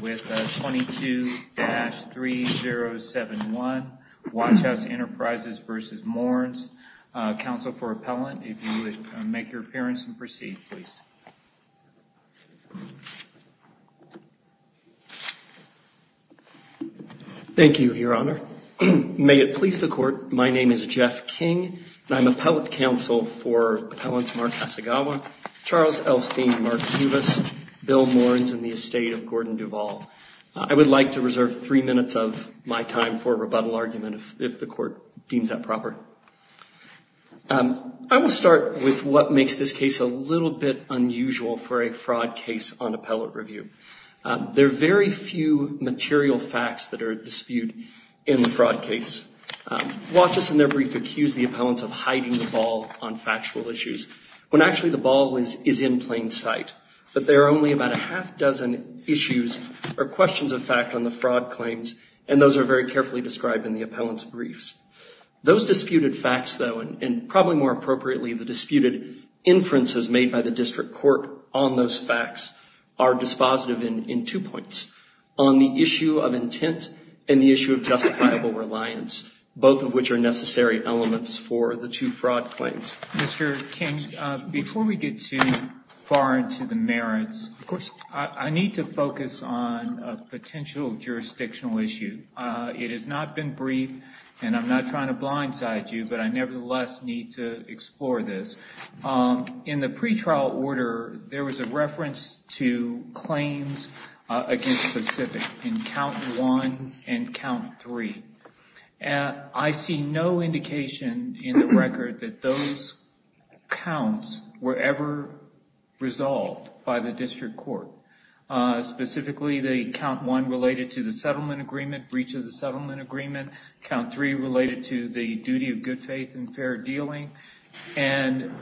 with 22-3071 Watchouts Enterprises v. Mournes. Counsel for Appellant, if you would make your appearance and proceed, please. Thank you, Your Honor. May it please the Court, my name is Jeff King and I'm Appellant Counsel for Appellants Mark Asagawa, Charles Elstein and Mark Zubas, Bill Mournes and the estate of Gordon Duvall. I would like to reserve three minutes of my time for a rebuttal argument if the Court deems that proper. I will start with what makes this case a little bit unusual for a fraud case on appellate review. There are very few material facts that are at dispute in the fraud case. Watch us in their brief accuse the appellants of hiding the ball on factual issues when actually the ball is in plain sight. But there are only about a half dozen issues or questions of fact on the fraud claims and those are very carefully described in the appellant's briefs. Those disputed facts though, and probably more appropriately, the disputed inferences made by the district court on those facts are dispositive in two points. On the issue of intent and the issue of justifiable reliance, both of which are necessary elements for the two fraud claims. Mr. King, before we get too far into the merits, I need to focus on a potential jurisdictional issue. It has not been briefed and I'm not trying to blindside you, but I nevertheless need to explore this. In the pretrial order, there was a reference to claims against Pacific in count one and count three. I see no indication in the record that those counts were ever resolved by the district court. Specifically, the count one related to the settlement agreement, breach of the settlement agreement, count three related to the duty of good faith and fair dealing. And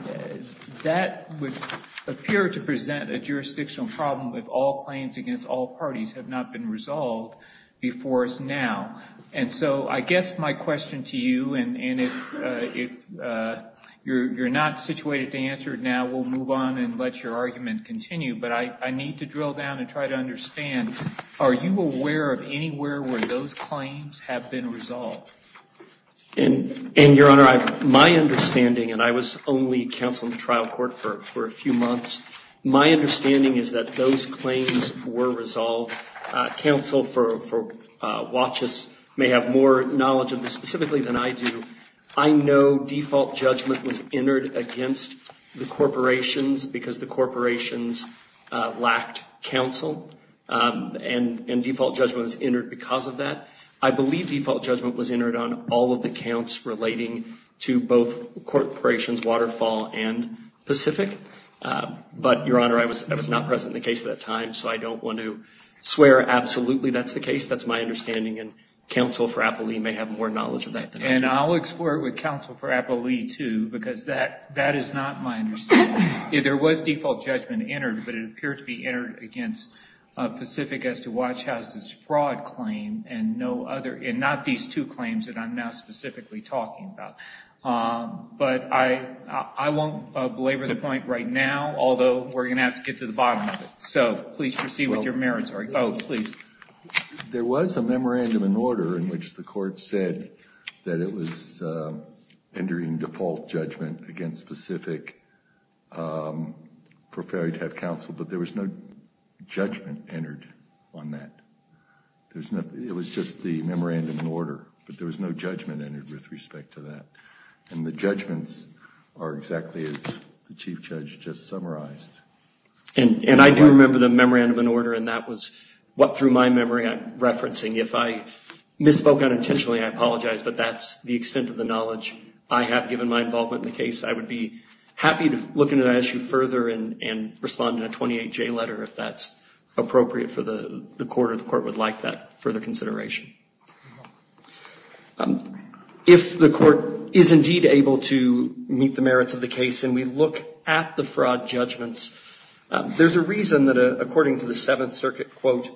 that would appear to present a jurisdictional problem if all claims against all parties have not been resolved before us now. And so I guess my question to you, and if you're not situated to answer it now, we'll move on and let your argument continue. But I need to drill down and try to understand, are you aware of anywhere where those claims have been resolved? And your honor, my understanding, and I was only counsel in the trial court for a few years, so I don't know where those claims have been resolved. Counsel for WATCHUS may have more knowledge of this specifically than I do. I know default judgment was entered against the corporations because the corporations lacked counsel. And default judgment was entered because of that. I believe default judgment was entered on all of the counts relating to both corporations, Waterfall and Pacific. But your honor, I was not present in the case at that time, so I don't want to swear absolutely that's the case. That's my understanding, and counsel for Appalee may have more knowledge of that than I do. And I'll explore it with counsel for Appalee, too, because that is not my understanding. There was default judgment entered, but it appeared to be entered against Pacific as to WATCHUS' fraud claim, and not these two claims that I'm now specifically talking about. But I won't belabor the point right now, although we're going to have to get to the bottom of this. So please proceed with your merits, or both, please. There was a memorandum in order in which the court said that it was entering default judgment against Pacific for Ferry to have counsel, but there was no judgment entered on that. It was just the memorandum in order, but there was no judgment entered with respect to that. And the judgments are exactly as the Chief Judge just summarized. And I do remember the memorandum in order, and that was what through my memory I'm referencing. If I misspoke unintentionally, I apologize, but that's the extent of the knowledge I have given my involvement in the case. I would be happy to look into that issue further and respond in a 28-J letter if that's appropriate for the court or the court would like that further consideration. If the court is indeed able to meet the merits of the case and we look at the fraud judgments, there's a reason that according to the Seventh Circuit, quote,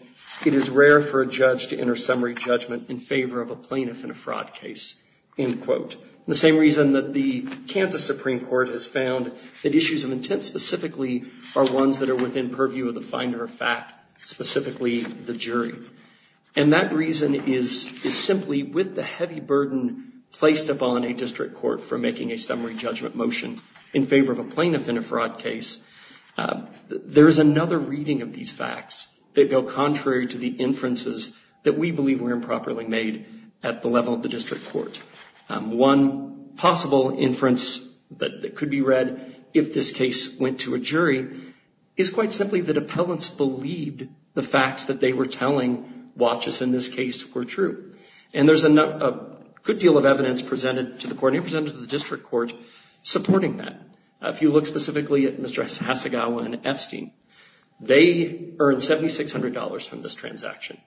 it is rare for a judge to enter summary judgment in favor of a plaintiff in a fraud case, end quote. The same reason that the Kansas Supreme Court has found that issues of intent specifically are ones that are within purview of the finder of fact, specifically the jury. And that reason is simply with the heavy burden placed upon a district court for making a fraud case. There is another reading of these facts that go contrary to the inferences that we believe were improperly made at the level of the district court. One possible inference that could be read if this case went to a jury is quite simply that appellants believed the facts that they were telling watchers in this case were true. And there's a good deal of evidence presented to the court and presented to the district court supporting that. If you look specifically at Mr. Hasegawa and Epstein, they earned $7,600 from this transaction.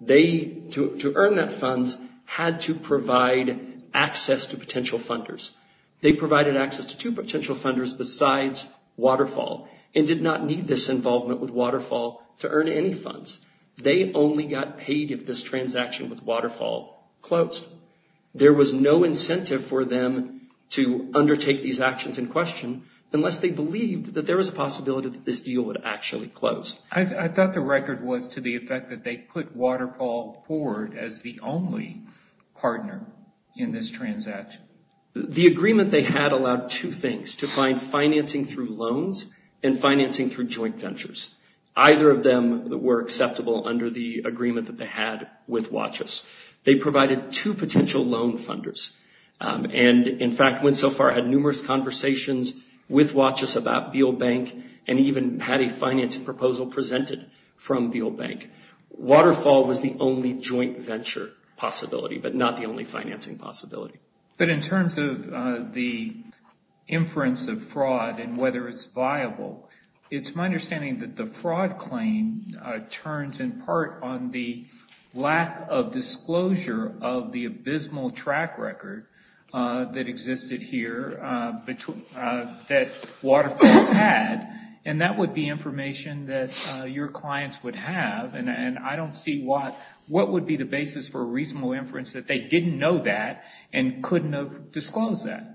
They, to earn that funds, had to provide access to potential funders. They provided access to two potential funders besides Waterfall and did not need this involvement with Waterfall to earn any funds. They only got paid if this transaction with Waterfall closed. There was no incentive for them to undertake these actions in question unless they believed that there was a possibility that this deal would actually close. I thought the record was to the effect that they put Waterfall forward as the only partner in this transaction. The agreement they had allowed two things, to find financing through loans and financing through joint ventures. Either of them were acceptable under the agreement that they had with watchers. They provided two potential loan funders and, in fact, went so far, had numerous conversations with watchers about Beale Bank and even had a financing proposal presented from Beale Bank. Waterfall was the only joint venture possibility, but not the only financing possibility. But in terms of the inference of fraud and whether it's viable, it's my understanding that the fraud claim turns in part on the lack of disclosure of the abysmal track record that existed here that Waterfall had. That would be information that your clients would have. I don't see what would be the basis for a reasonable inference that they didn't know that and couldn't have disclosed that.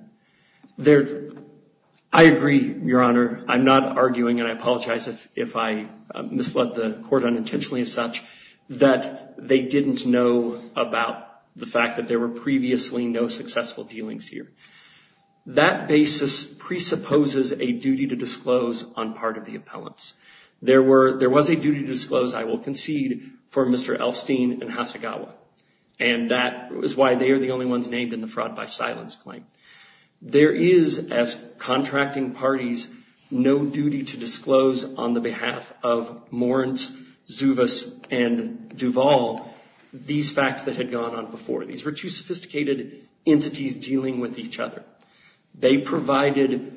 I agree, Your Honor. I'm not arguing, and I apologize if I misled the court unintentionally as such, that they didn't know about the fact that there were previously no successful dealings here. That basis presupposes a duty to disclose on part of the appellants. There was a duty to disclose, I will concede, for Mr. Elfstein and Hasegawa. And that is why they are the only ones named in the fraud by silence claim. There is, as contracting parties, no duty to disclose on the behalf of Moritz, Zuvis, and Duvall these facts that had gone on before. These were two sophisticated entities dealing with each other. They provided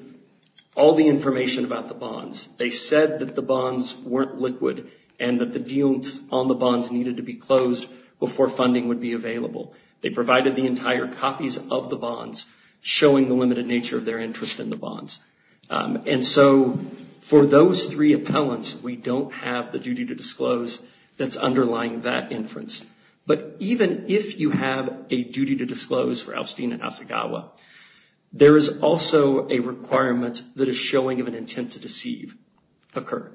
all the information about the bonds. They said that the bonds weren't liquid and that the dealings on the bonds needed to be closed before funding would be available. They provided the entire copies of the bonds, showing the limited nature of their interest in the bonds. And so for those three appellants, we don't have the duty to disclose that's underlying that inference. But even if you have a duty to disclose for Elfstein and Hasegawa, there is also a requirement that a showing of an intent to deceive occur.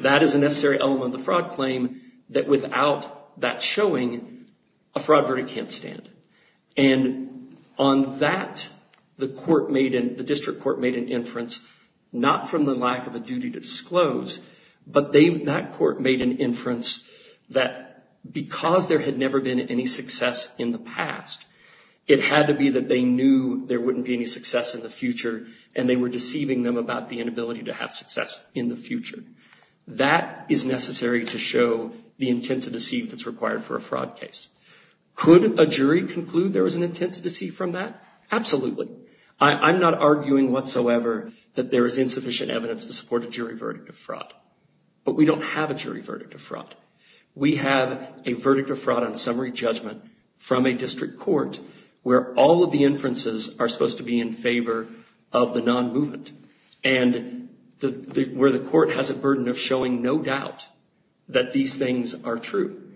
That is a necessary element of the fraud claim that without that showing, a fraud verdict can't stand. And on that, the court made, the district court made an inference, not from the lack of a duty to disclose, but that court made an inference that because there had never been any success in the past, it had to be that they knew there wouldn't be any success in the future and they were deceiving them about the inability to have success in the future. That is necessary to show the intent to deceive that's required for a fraud case. Could a jury conclude there was an intent to deceive from that? Absolutely. I'm not arguing whatsoever that there is insufficient evidence to support a jury verdict of fraud, but we don't have a jury verdict of fraud. We have a verdict of fraud on summary judgment from a district court where all of the inferences are supposed to be in favor of the non-movement and where the court has a burden of showing no doubt that these things are true.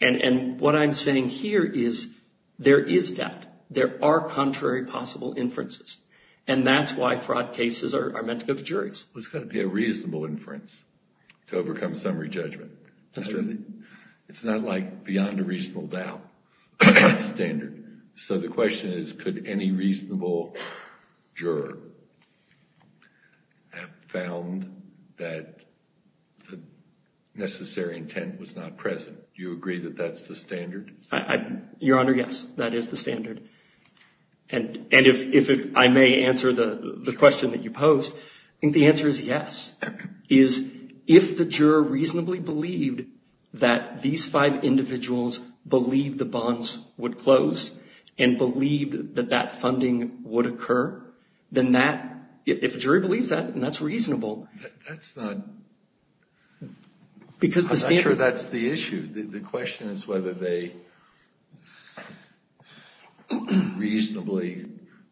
And what I'm saying here is there is doubt. There are contrary possible inferences. And that's why fraud cases are meant to go to juries. It's got to be a reasonable inference to overcome summary judgment. It's not like beyond a reasonable doubt standard. So the question is, could any reasonable juror have found that the necessary intent was not present? Do you agree that that's the standard? Your Honor, yes. That is the standard. And if I may answer the question that you posed, I think the answer is yes. Is if the juror reasonably believed that these five individuals believed the bonds would close and believed that that funding would occur, then that, if a jury believes that and that's reasonable, that's not, I'm not sure that's the issue. The question is whether they reasonably,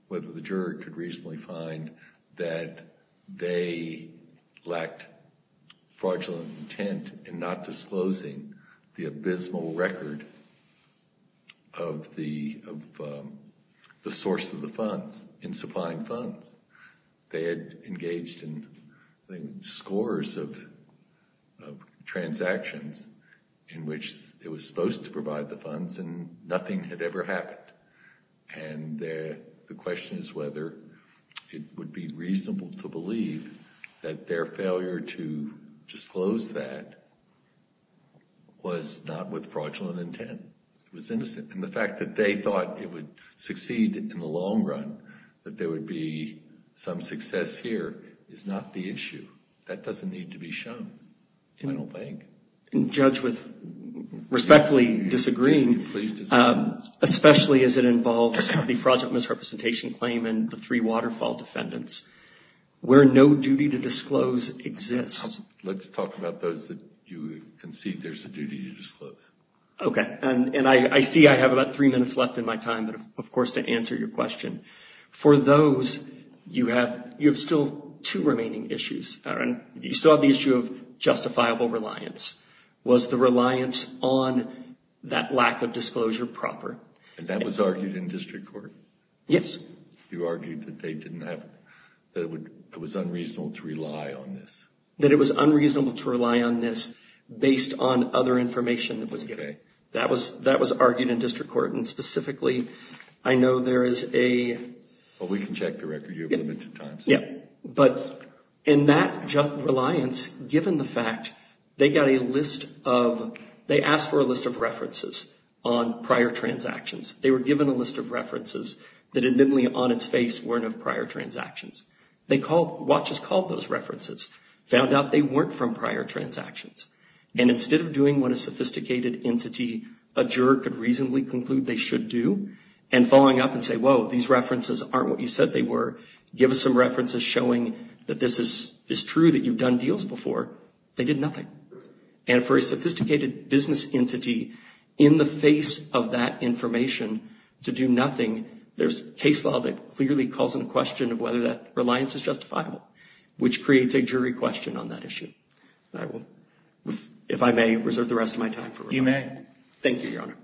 whether the juror could reasonably find that they lacked fraudulent intent in not disclosing the abysmal record of the source of the funds in supplying funds. They had engaged in scores of transactions in which it was supposed to provide the funds and nothing had ever happened. And the question is whether it would be reasonable to believe that their failure to disclose that was not with fraudulent intent. It was innocent. And the fact that they thought it would succeed in the long run, that there would be some success here, is not the issue. That doesn't need to be shown, I don't think. Judge, with respectfully disagreeing, especially as it involves the fraudulent misrepresentation claim and the three waterfall defendants, where no duty to disclose exists. Let's talk about those that you concede there's a duty to disclose. Okay. And I see I have about three minutes left in my time, but of course to answer your question. For those, you have still two remaining issues. You still have the issue of justifiable reliance. Was the reliance on that lack of disclosure proper? And that was argued in district court? Yes. You argued that they didn't have, that it was unreasonable to rely on this? That it was unreasonable to rely on this based on other information that was given? Correct. That was argued in district court, and specifically, I know there is a... Well, we can check the record. You have limited time. Yeah. But in that reliance, given the fact, they got a list of, they asked for a list of references on prior transactions. They were given a list of references that admittedly on its face weren't of prior transactions. They called, WATCHES called those references, found out they weren't from prior transactions. And instead of doing what a sophisticated entity, a juror could reasonably conclude they should do, and following up and say, whoa, these references aren't what you said they were. Give us some references showing that this is true, that you've done deals before. They did nothing. And for a sophisticated business entity in the face of that information to do nothing, there's case law that clearly calls into question of whether that reliance is justifiable, which creates a jury question on that issue. If I may, reserve the rest of my time for rebuttal. You may. Thank you, Your Honor.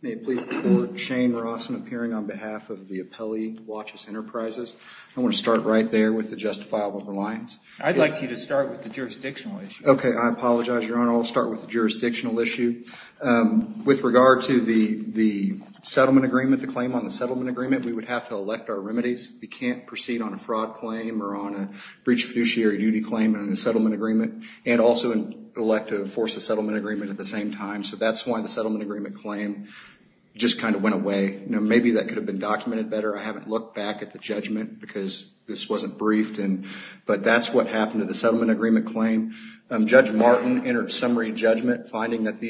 May it please the Court, Shane Rossman appearing on behalf of the appellee, WATCHES Enterprises. I want to start right there with the justifiable reliance. I'd like you to start with the jurisdictional issue. Okay. I apologize, Your Honor. I'll start with the jurisdictional issue. With regard to the settlement agreement, the claim on the settlement agreement, we would have to elect our remedies. We can't proceed on a fraud claim or on a breach of fiduciary duty claim in a settlement agreement and also elect to force a settlement agreement at the same time. So that's why the settlement agreement claim just kind of went away. Maybe that could have been documented better. I haven't looked back at the judgment because this wasn't briefed. But that's what happened to the settlement agreement claim. Judge Martin entered summary judgment finding that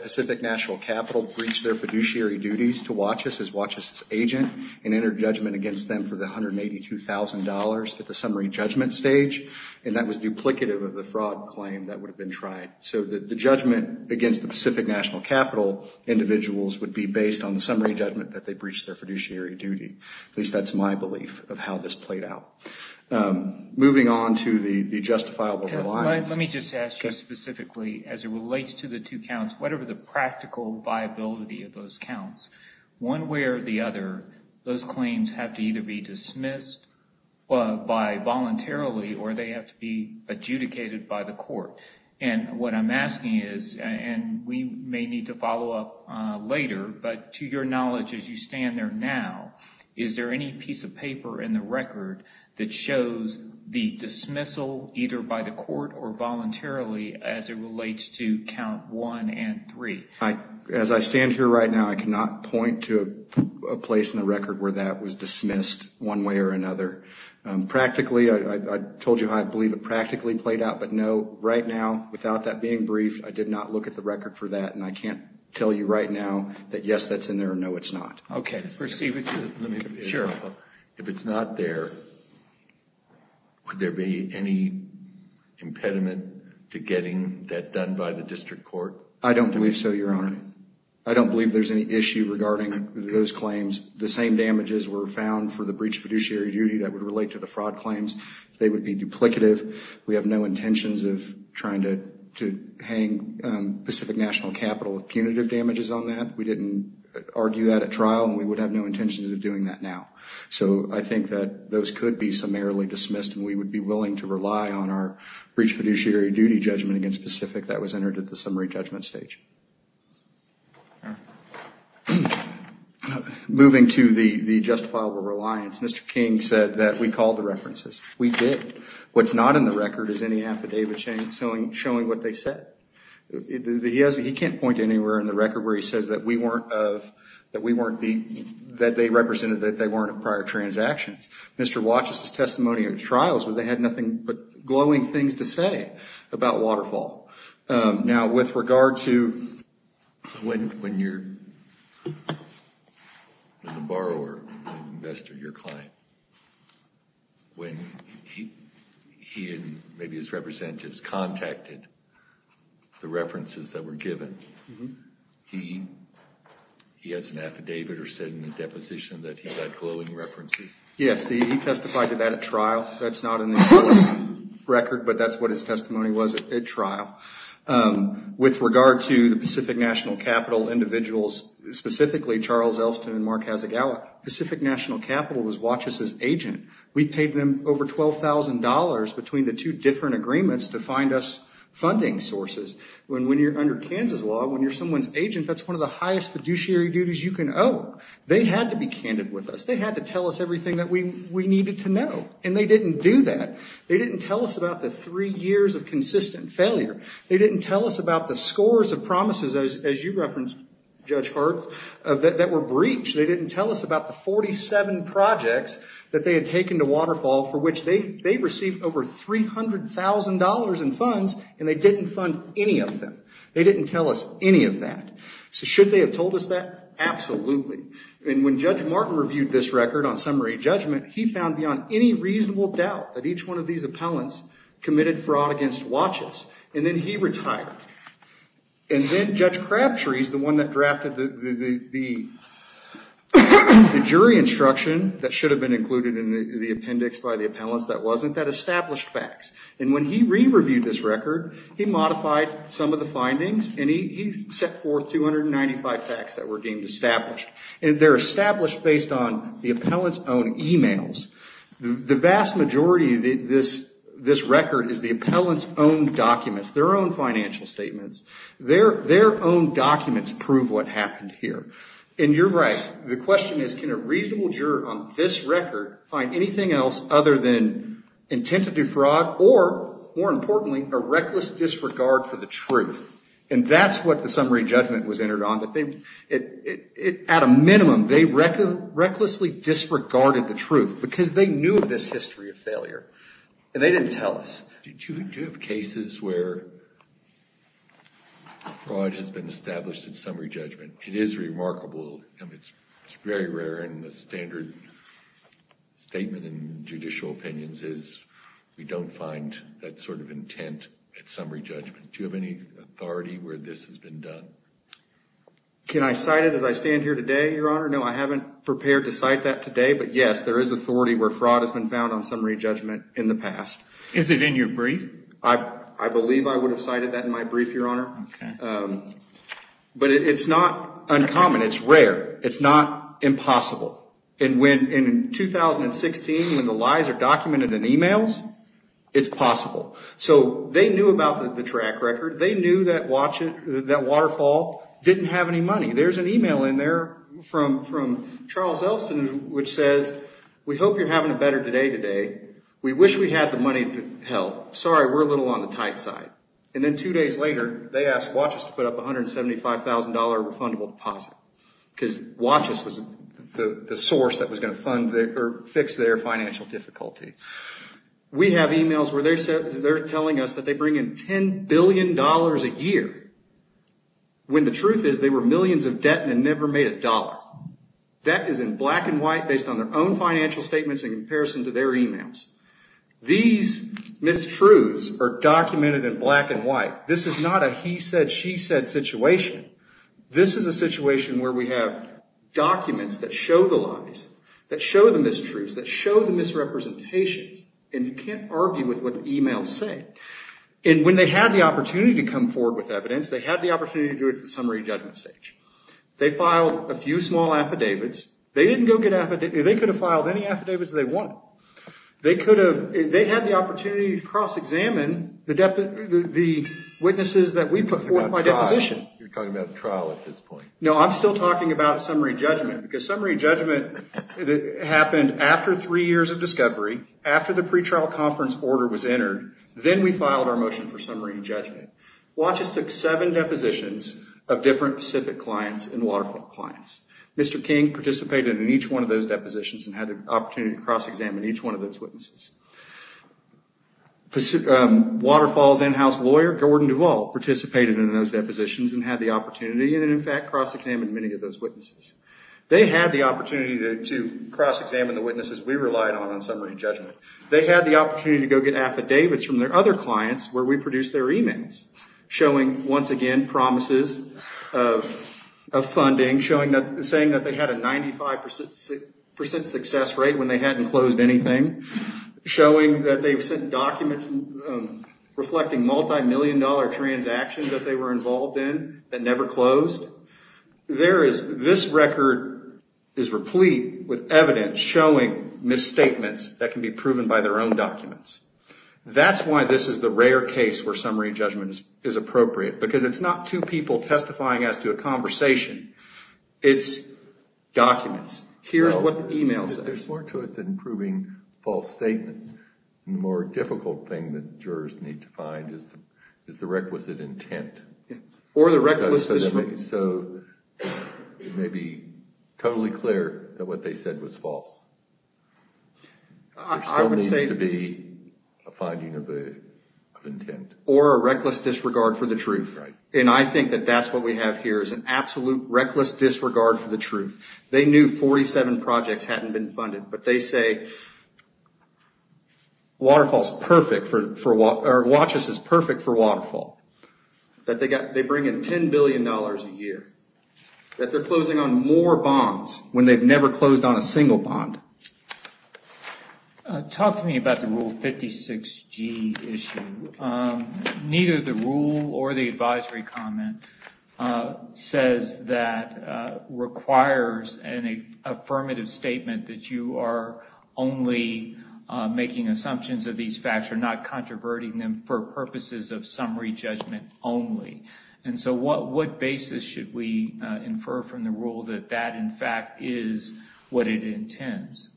Pacific National Capital breached their fiduciary duties to WATCHES as WATCHES' agent and entered judgment against them for the $182,000 at the summary judgment stage. And that was duplicative of the fraud claim that would have been tried. So the judgment against the Pacific National Capital individuals would be based on the summary judgment that they breached their fiduciary duty. At least that's my belief of how this played out. Moving on to the justifiable reliance. Let me just ask you specifically, as it relates to the two counts, whatever the practical viability of those counts, one way or the other, those claims have to either be dismissed by voluntarily or they have to be adjudicated by the court. And what I'm asking is, and we may need to follow up later, but to your knowledge as you stand there now, is there any piece of paper in the record that shows the dismissal either by the court or voluntarily as it relates to count one and three? As I stand here right now, I cannot point to a place in the record where that was dismissed one way or another. Practically, I told you I believe it practically played out. But no, right now, without that being briefed, I did not look at the record for that. And I can't tell you right now that yes, that's in there. No, it's not. Okay. First, Steve, if it's not there, would there be any impediment to getting that done by the district court? I don't believe so, Your Honor. I don't believe there's any issue regarding those claims. The same damages were found for the breach of fiduciary duty that would relate to the fraud claims. They would be duplicative. We have no intentions of trying to hang Pacific National Capital with punitive damages on that. We didn't argue that at trial and we would have no intentions of doing that now. So I think that those could be summarily dismissed and we would be willing to rely on our breach of fiduciary duty judgment against Pacific that was entered at the summary judgment stage. Moving to the justifiable reliance, Mr. King said that we called the references. We did. What's not in the record is any affidavit showing what they said. He can't point to anywhere in the record where he says that they represented that they weren't prior transactions. Mr. Watch's testimony at trials where they had nothing but glowing things to say about Waterfall. Now, with regard to when the borrower, the investor, your client, when he and maybe his the references that were given, he has an affidavit or said in the deposition that he had glowing references. Yes, he testified to that at trial. That's not in the record, but that's what his testimony was at trial. With regard to the Pacific National Capital individuals, specifically Charles Elston and Mark Hazegawa, Pacific National Capital was Watch's agent. We paid them over $12,000 between the two different agreements to find us funding sources. When you're under Kansas law, when you're someone's agent, that's one of the highest fiduciary duties you can owe. They had to be candid with us. They had to tell us everything that we needed to know, and they didn't do that. They didn't tell us about the three years of consistent failure. They didn't tell us about the scores of promises, as you referenced, Judge Hart, that were breached. They didn't tell us about the 47 projects that they had taken to Waterfall for which they received over $300,000 in funds, and they didn't fund any of them. They didn't tell us any of that. So should they have told us that? Absolutely. And when Judge Martin reviewed this record on summary judgment, he found beyond any reasonable doubt that each one of these appellants committed fraud against Watch's, and then he retired. And then Judge Crabtree is the one that drafted the jury instruction that should have been included in the appendix by the appellants that wasn't, that established facts. And when he re-reviewed this record, he modified some of the findings, and he set forth 295 facts that were deemed established. And they're established based on the appellant's own emails. The vast majority of this record is the appellant's own documents, their own financial statements. Their own documents prove what happened here. And you're right. The question is, can a reasonable juror on this record find anything else other than intent to do fraud or, more importantly, a reckless disregard for the truth? And that's what the summary judgment was entered on. At a minimum, they recklessly disregarded the truth because they knew of this history of failure, and they didn't tell us. Do you have cases where fraud has been established in summary judgment? It is remarkable, and it's very rare in the standard statement in judicial opinions is we don't find that sort of intent at summary judgment. Do you have any authority where this has been done? Can I cite it as I stand here today, Your Honor? No, I haven't prepared to cite that today. But yes, there is authority where fraud has been found on summary judgment in the past. Is it in your brief? I believe I would have cited that in my brief, Your Honor. But it's not uncommon. It's rare. It's not impossible. And in 2016, when the lies are documented in emails, it's possible. So they knew about the track record. They knew that waterfall didn't have any money. There's an email in there from Charles Elston, which says, we hope you're having a better day today. We wish we had the money to help. Sorry, we're a little on the tight side. And then two days later, they asked Watchus to put up a $175,000 refundable deposit because Watchus was the source that was going to fix their financial difficulty. We have emails where they're telling us that they bring in $10 billion a year when the truth is they were millions of debt and never made a dollar. That is in black and white based on their own financial statements in comparison to their emails. These mistruths are documented in black and white. This is not a he said, she said situation. This is a situation where we have documents that show the lies, that show the mistruths, that show the misrepresentations. And you can't argue with what the emails say. And when they had the opportunity to come forward with evidence, they had the opportunity to do it at the summary judgment stage. They filed a few small affidavits. They didn't go get affidavits. They could have filed any affidavits they wanted. They could have, they had the opportunity to cross examine the witnesses that we put forth my deposition. You're talking about trial at this point. No, I'm still talking about summary judgment because summary judgment happened after three years of discovery, after the pre-trial conference order was entered. Then we filed our motion for summary judgment. Watchus took seven depositions of different Pacific clients and Waterfront clients. Mr. King participated in each one of those depositions and had the opportunity to cross-examine each one of those witnesses. Waterfall's in-house lawyer, Gordon Duvall, participated in those depositions and had the opportunity and in fact cross-examined many of those witnesses. They had the opportunity to cross-examine the witnesses we relied on in summary judgment. They had the opportunity to go get affidavits from their other clients where we produced their emails showing, once again, promises of funding, saying that they had a 95 percent success rate when they hadn't closed anything, showing that they've sent documents reflecting multi-million dollar transactions that they were involved in that never closed. This record is replete with evidence showing misstatements that can be proven by their own documents. That's why this is the rare case where summary judgment is appropriate because it's not two people testifying as to a conversation. It's documents. Here's what the email says. There's more to it than proving false statements. The more difficult thing that jurors need to find is the requisite intent. Or the reckless disregard. So it may be totally clear that what they said was false. There still needs to be a finding of intent. Or a reckless disregard for the truth. And I think that that's what we have here is an absolute reckless disregard for the truth. They knew 47 projects hadn't been funded. But they say, WATCHUS is perfect for Waterfall. That they bring in $10 billion a year. That they're closing on more bonds when they've never closed on a single bond. Talk to me about the Rule 56G issue. Neither the rule or the advisory comment says that requires an affirmative statement that you are only making assumptions of these facts or not controverting them for purposes of summary judgment only. And so what basis should we infer from the rule that that in fact is what it intends?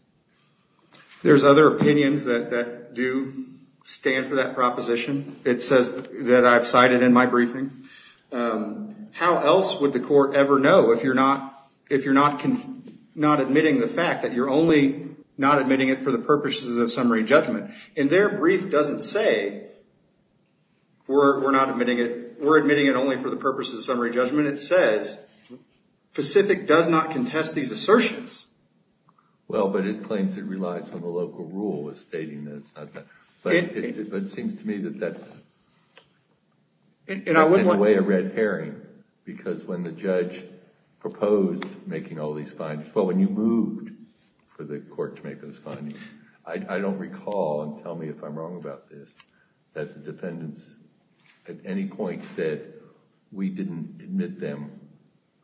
There's other opinions that do stand for that proposition. It says that I've cited in my briefing. How else would the court ever know if you're not admitting the fact that you're only not admitting it for the purposes of summary judgment? And their brief doesn't say we're admitting it only for the purposes of summary judgment. It says Pacific does not contest these assertions. Well, but it claims it relies on the local rule stating that it's not that. But it seems to me that that's in a way a red herring. Because when the judge proposed making all these findings, well, when you moved for the court to make those findings, I don't recall and tell me if I'm wrong about this, that the defendants at any point said we didn't admit them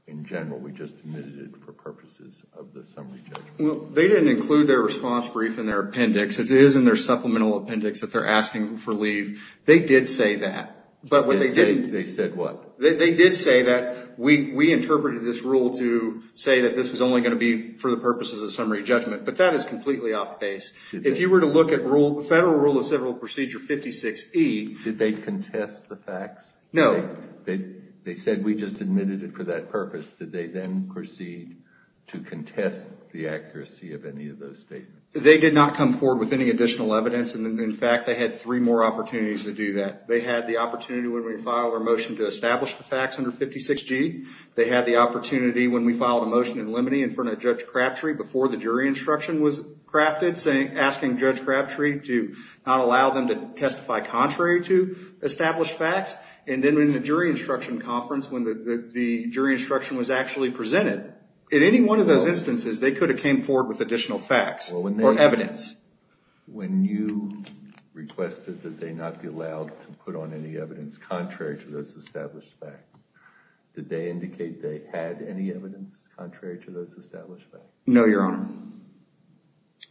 in general. We just admitted it for purposes of the summary judgment. Well, they didn't include their response brief in their appendix. It is in their supplemental appendix that they're asking for leave. They did say that, but what they did, they said what they did say that we interpreted this rule to say that this was only going to be for the purposes of summary judgment. But that is completely off base. If you were to look at Federal Rule of Civil Procedure 56E. Did they contest the facts? No. They said we just admitted it for that purpose. Did they then proceed to contest the accuracy of any of those statements? They did not come forward with any additional evidence. And in fact, they had three more opportunities to do that. They had the opportunity when we filed our motion to establish the facts under 56G. They had the opportunity when we filed a motion in limine in front of Judge Crabtree before the jury instruction was crafted, asking Judge Crabtree to not allow them to testify contrary to established facts. And then when the jury instruction conference, when the jury instruction was actually presented, in any one of those instances, they could have came forward with additional facts or evidence. When you requested that they not be allowed to put on any evidence contrary to those established facts, did they indicate they had any evidence contrary to those established facts? No, Your Honor.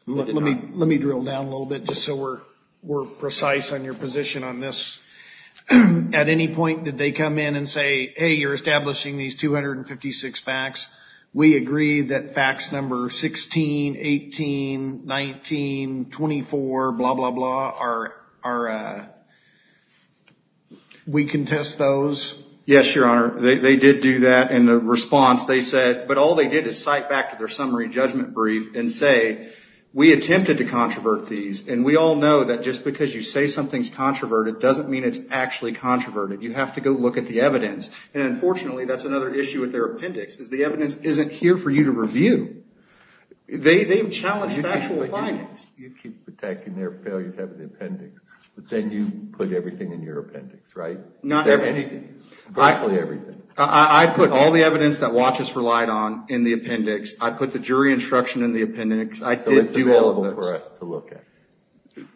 Let me drill down a little bit just so we're precise on your position on this. At any point, did they come in and say, hey, you're establishing these 256 facts. We agree that facts number 16, 18, 19, 24, blah, blah, blah, are, are, uh, we contest those? Yes, Your Honor. They, they did do that. And the response they said, but all they did is cite back to their summary judgment brief and say, we attempted to controvert these. And we all know that just because you say something's controverted, it doesn't mean it's actually controverted. You have to go look at the evidence. And unfortunately, that's another issue with their appendix, is the evidence isn't here for you to review. They, they've challenged factual findings. You keep protecting their failure to have the appendix, but then you put everything in your appendix, right? Not everything. Virtually everything. I, I put all the evidence that WATCH has relied on in the appendix. I put the jury instruction in the appendix. I did do all of those. So it's available for us to look at.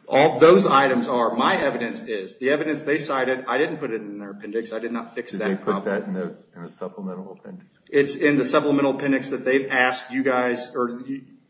All those items are, my evidence is, the evidence they cited, I didn't put it in their appendix. I did not fix that. Did they put that in those, in the supplemental appendix? It's in the supplemental appendix that they've asked you guys, or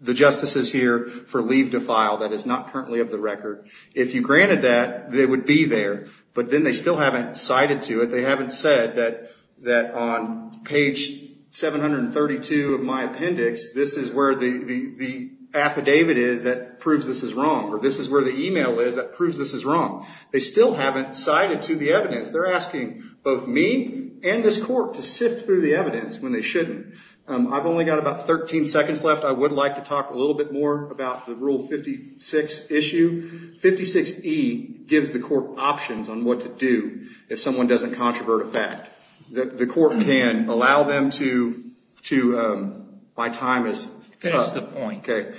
the justices here, for leave to file. That is not currently of the record. If you granted that, they would be there, but then they still haven't cited to it. They haven't said that, that on page 732 of my appendix, this is where the, the, affidavit is that proves this is wrong. Or this is where the email is that proves this is wrong. They still haven't cited to the evidence. They're asking both me and this court to sift through the evidence when they shouldn't. Um, I've only got about 13 seconds left. I would like to talk a little bit more about the Rule 56 issue. 56E gives the court options on what to do if someone doesn't controvert a fact. That the court can allow them to, to, um, my time is up. Okay.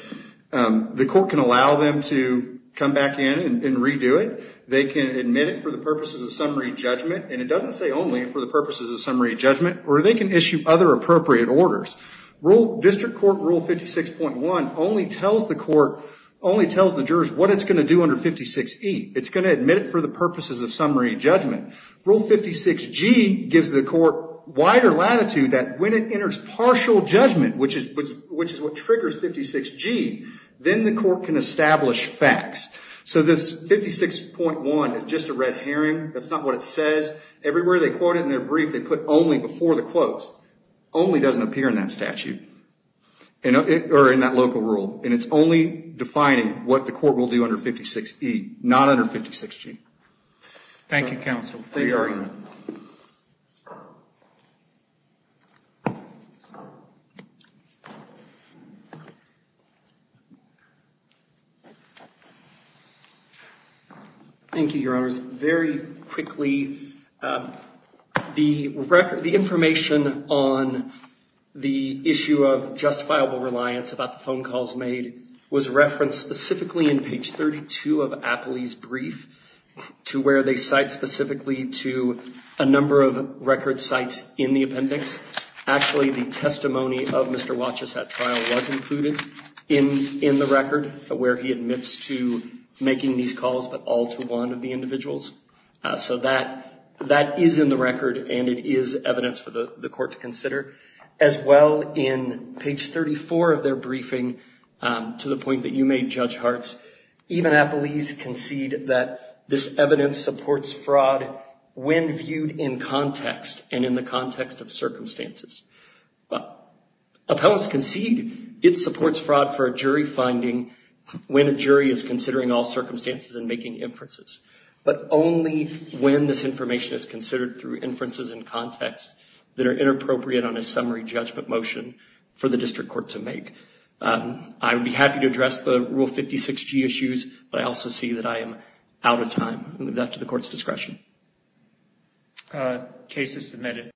Um, the court can allow them to come back in and redo it. They can admit it for the purposes of summary judgment. And it doesn't say only for the purposes of summary judgment, or they can issue other appropriate orders. Rule district court Rule 56.1 only tells the court, only tells the jurors what it's going to do under 56E. It's going to admit it for the purposes of summary judgment. Rule 56G gives the court wider latitude that when it enters partial judgment, which is, which is what triggers 56G, then the court can establish facts. So this 56.1 is just a red herring. That's not what it says everywhere. They quote it in their brief. They put only before the quotes, only doesn't appear in that statute or in that local rule. And it's only defining what the court will do under 56E, not under 56G. Thank you, counsel. Thank you, your honors. Very quickly, um, the record, the information on the issue of justifiable reliance about the phone calls made was referenced specifically in page 32 of Apley's brief to where they cite specifically to a number of record sites in the appendix. Actually, the testimony of Mr. Wachus at trial was included in, in the record where he admits to making these calls, but all to one of the individuals. Uh, so that, that is in the record and it is evidence for the court to consider as well in page 34 of their briefing, um, to the point that you made Judge Hartz, even Apley's concede that this evidence supports fraud when viewed in the context of circumstances, but appellants concede it supports fraud for a jury finding when a jury is considering all circumstances and making inferences, but only when this information is considered through inferences in context that are inappropriate on a summary judgment motion for the district court to make. Um, I would be happy to address the rule 56G issues, but I also see that I am out of time and leave that to the court's discretion. Uh, case is submitted.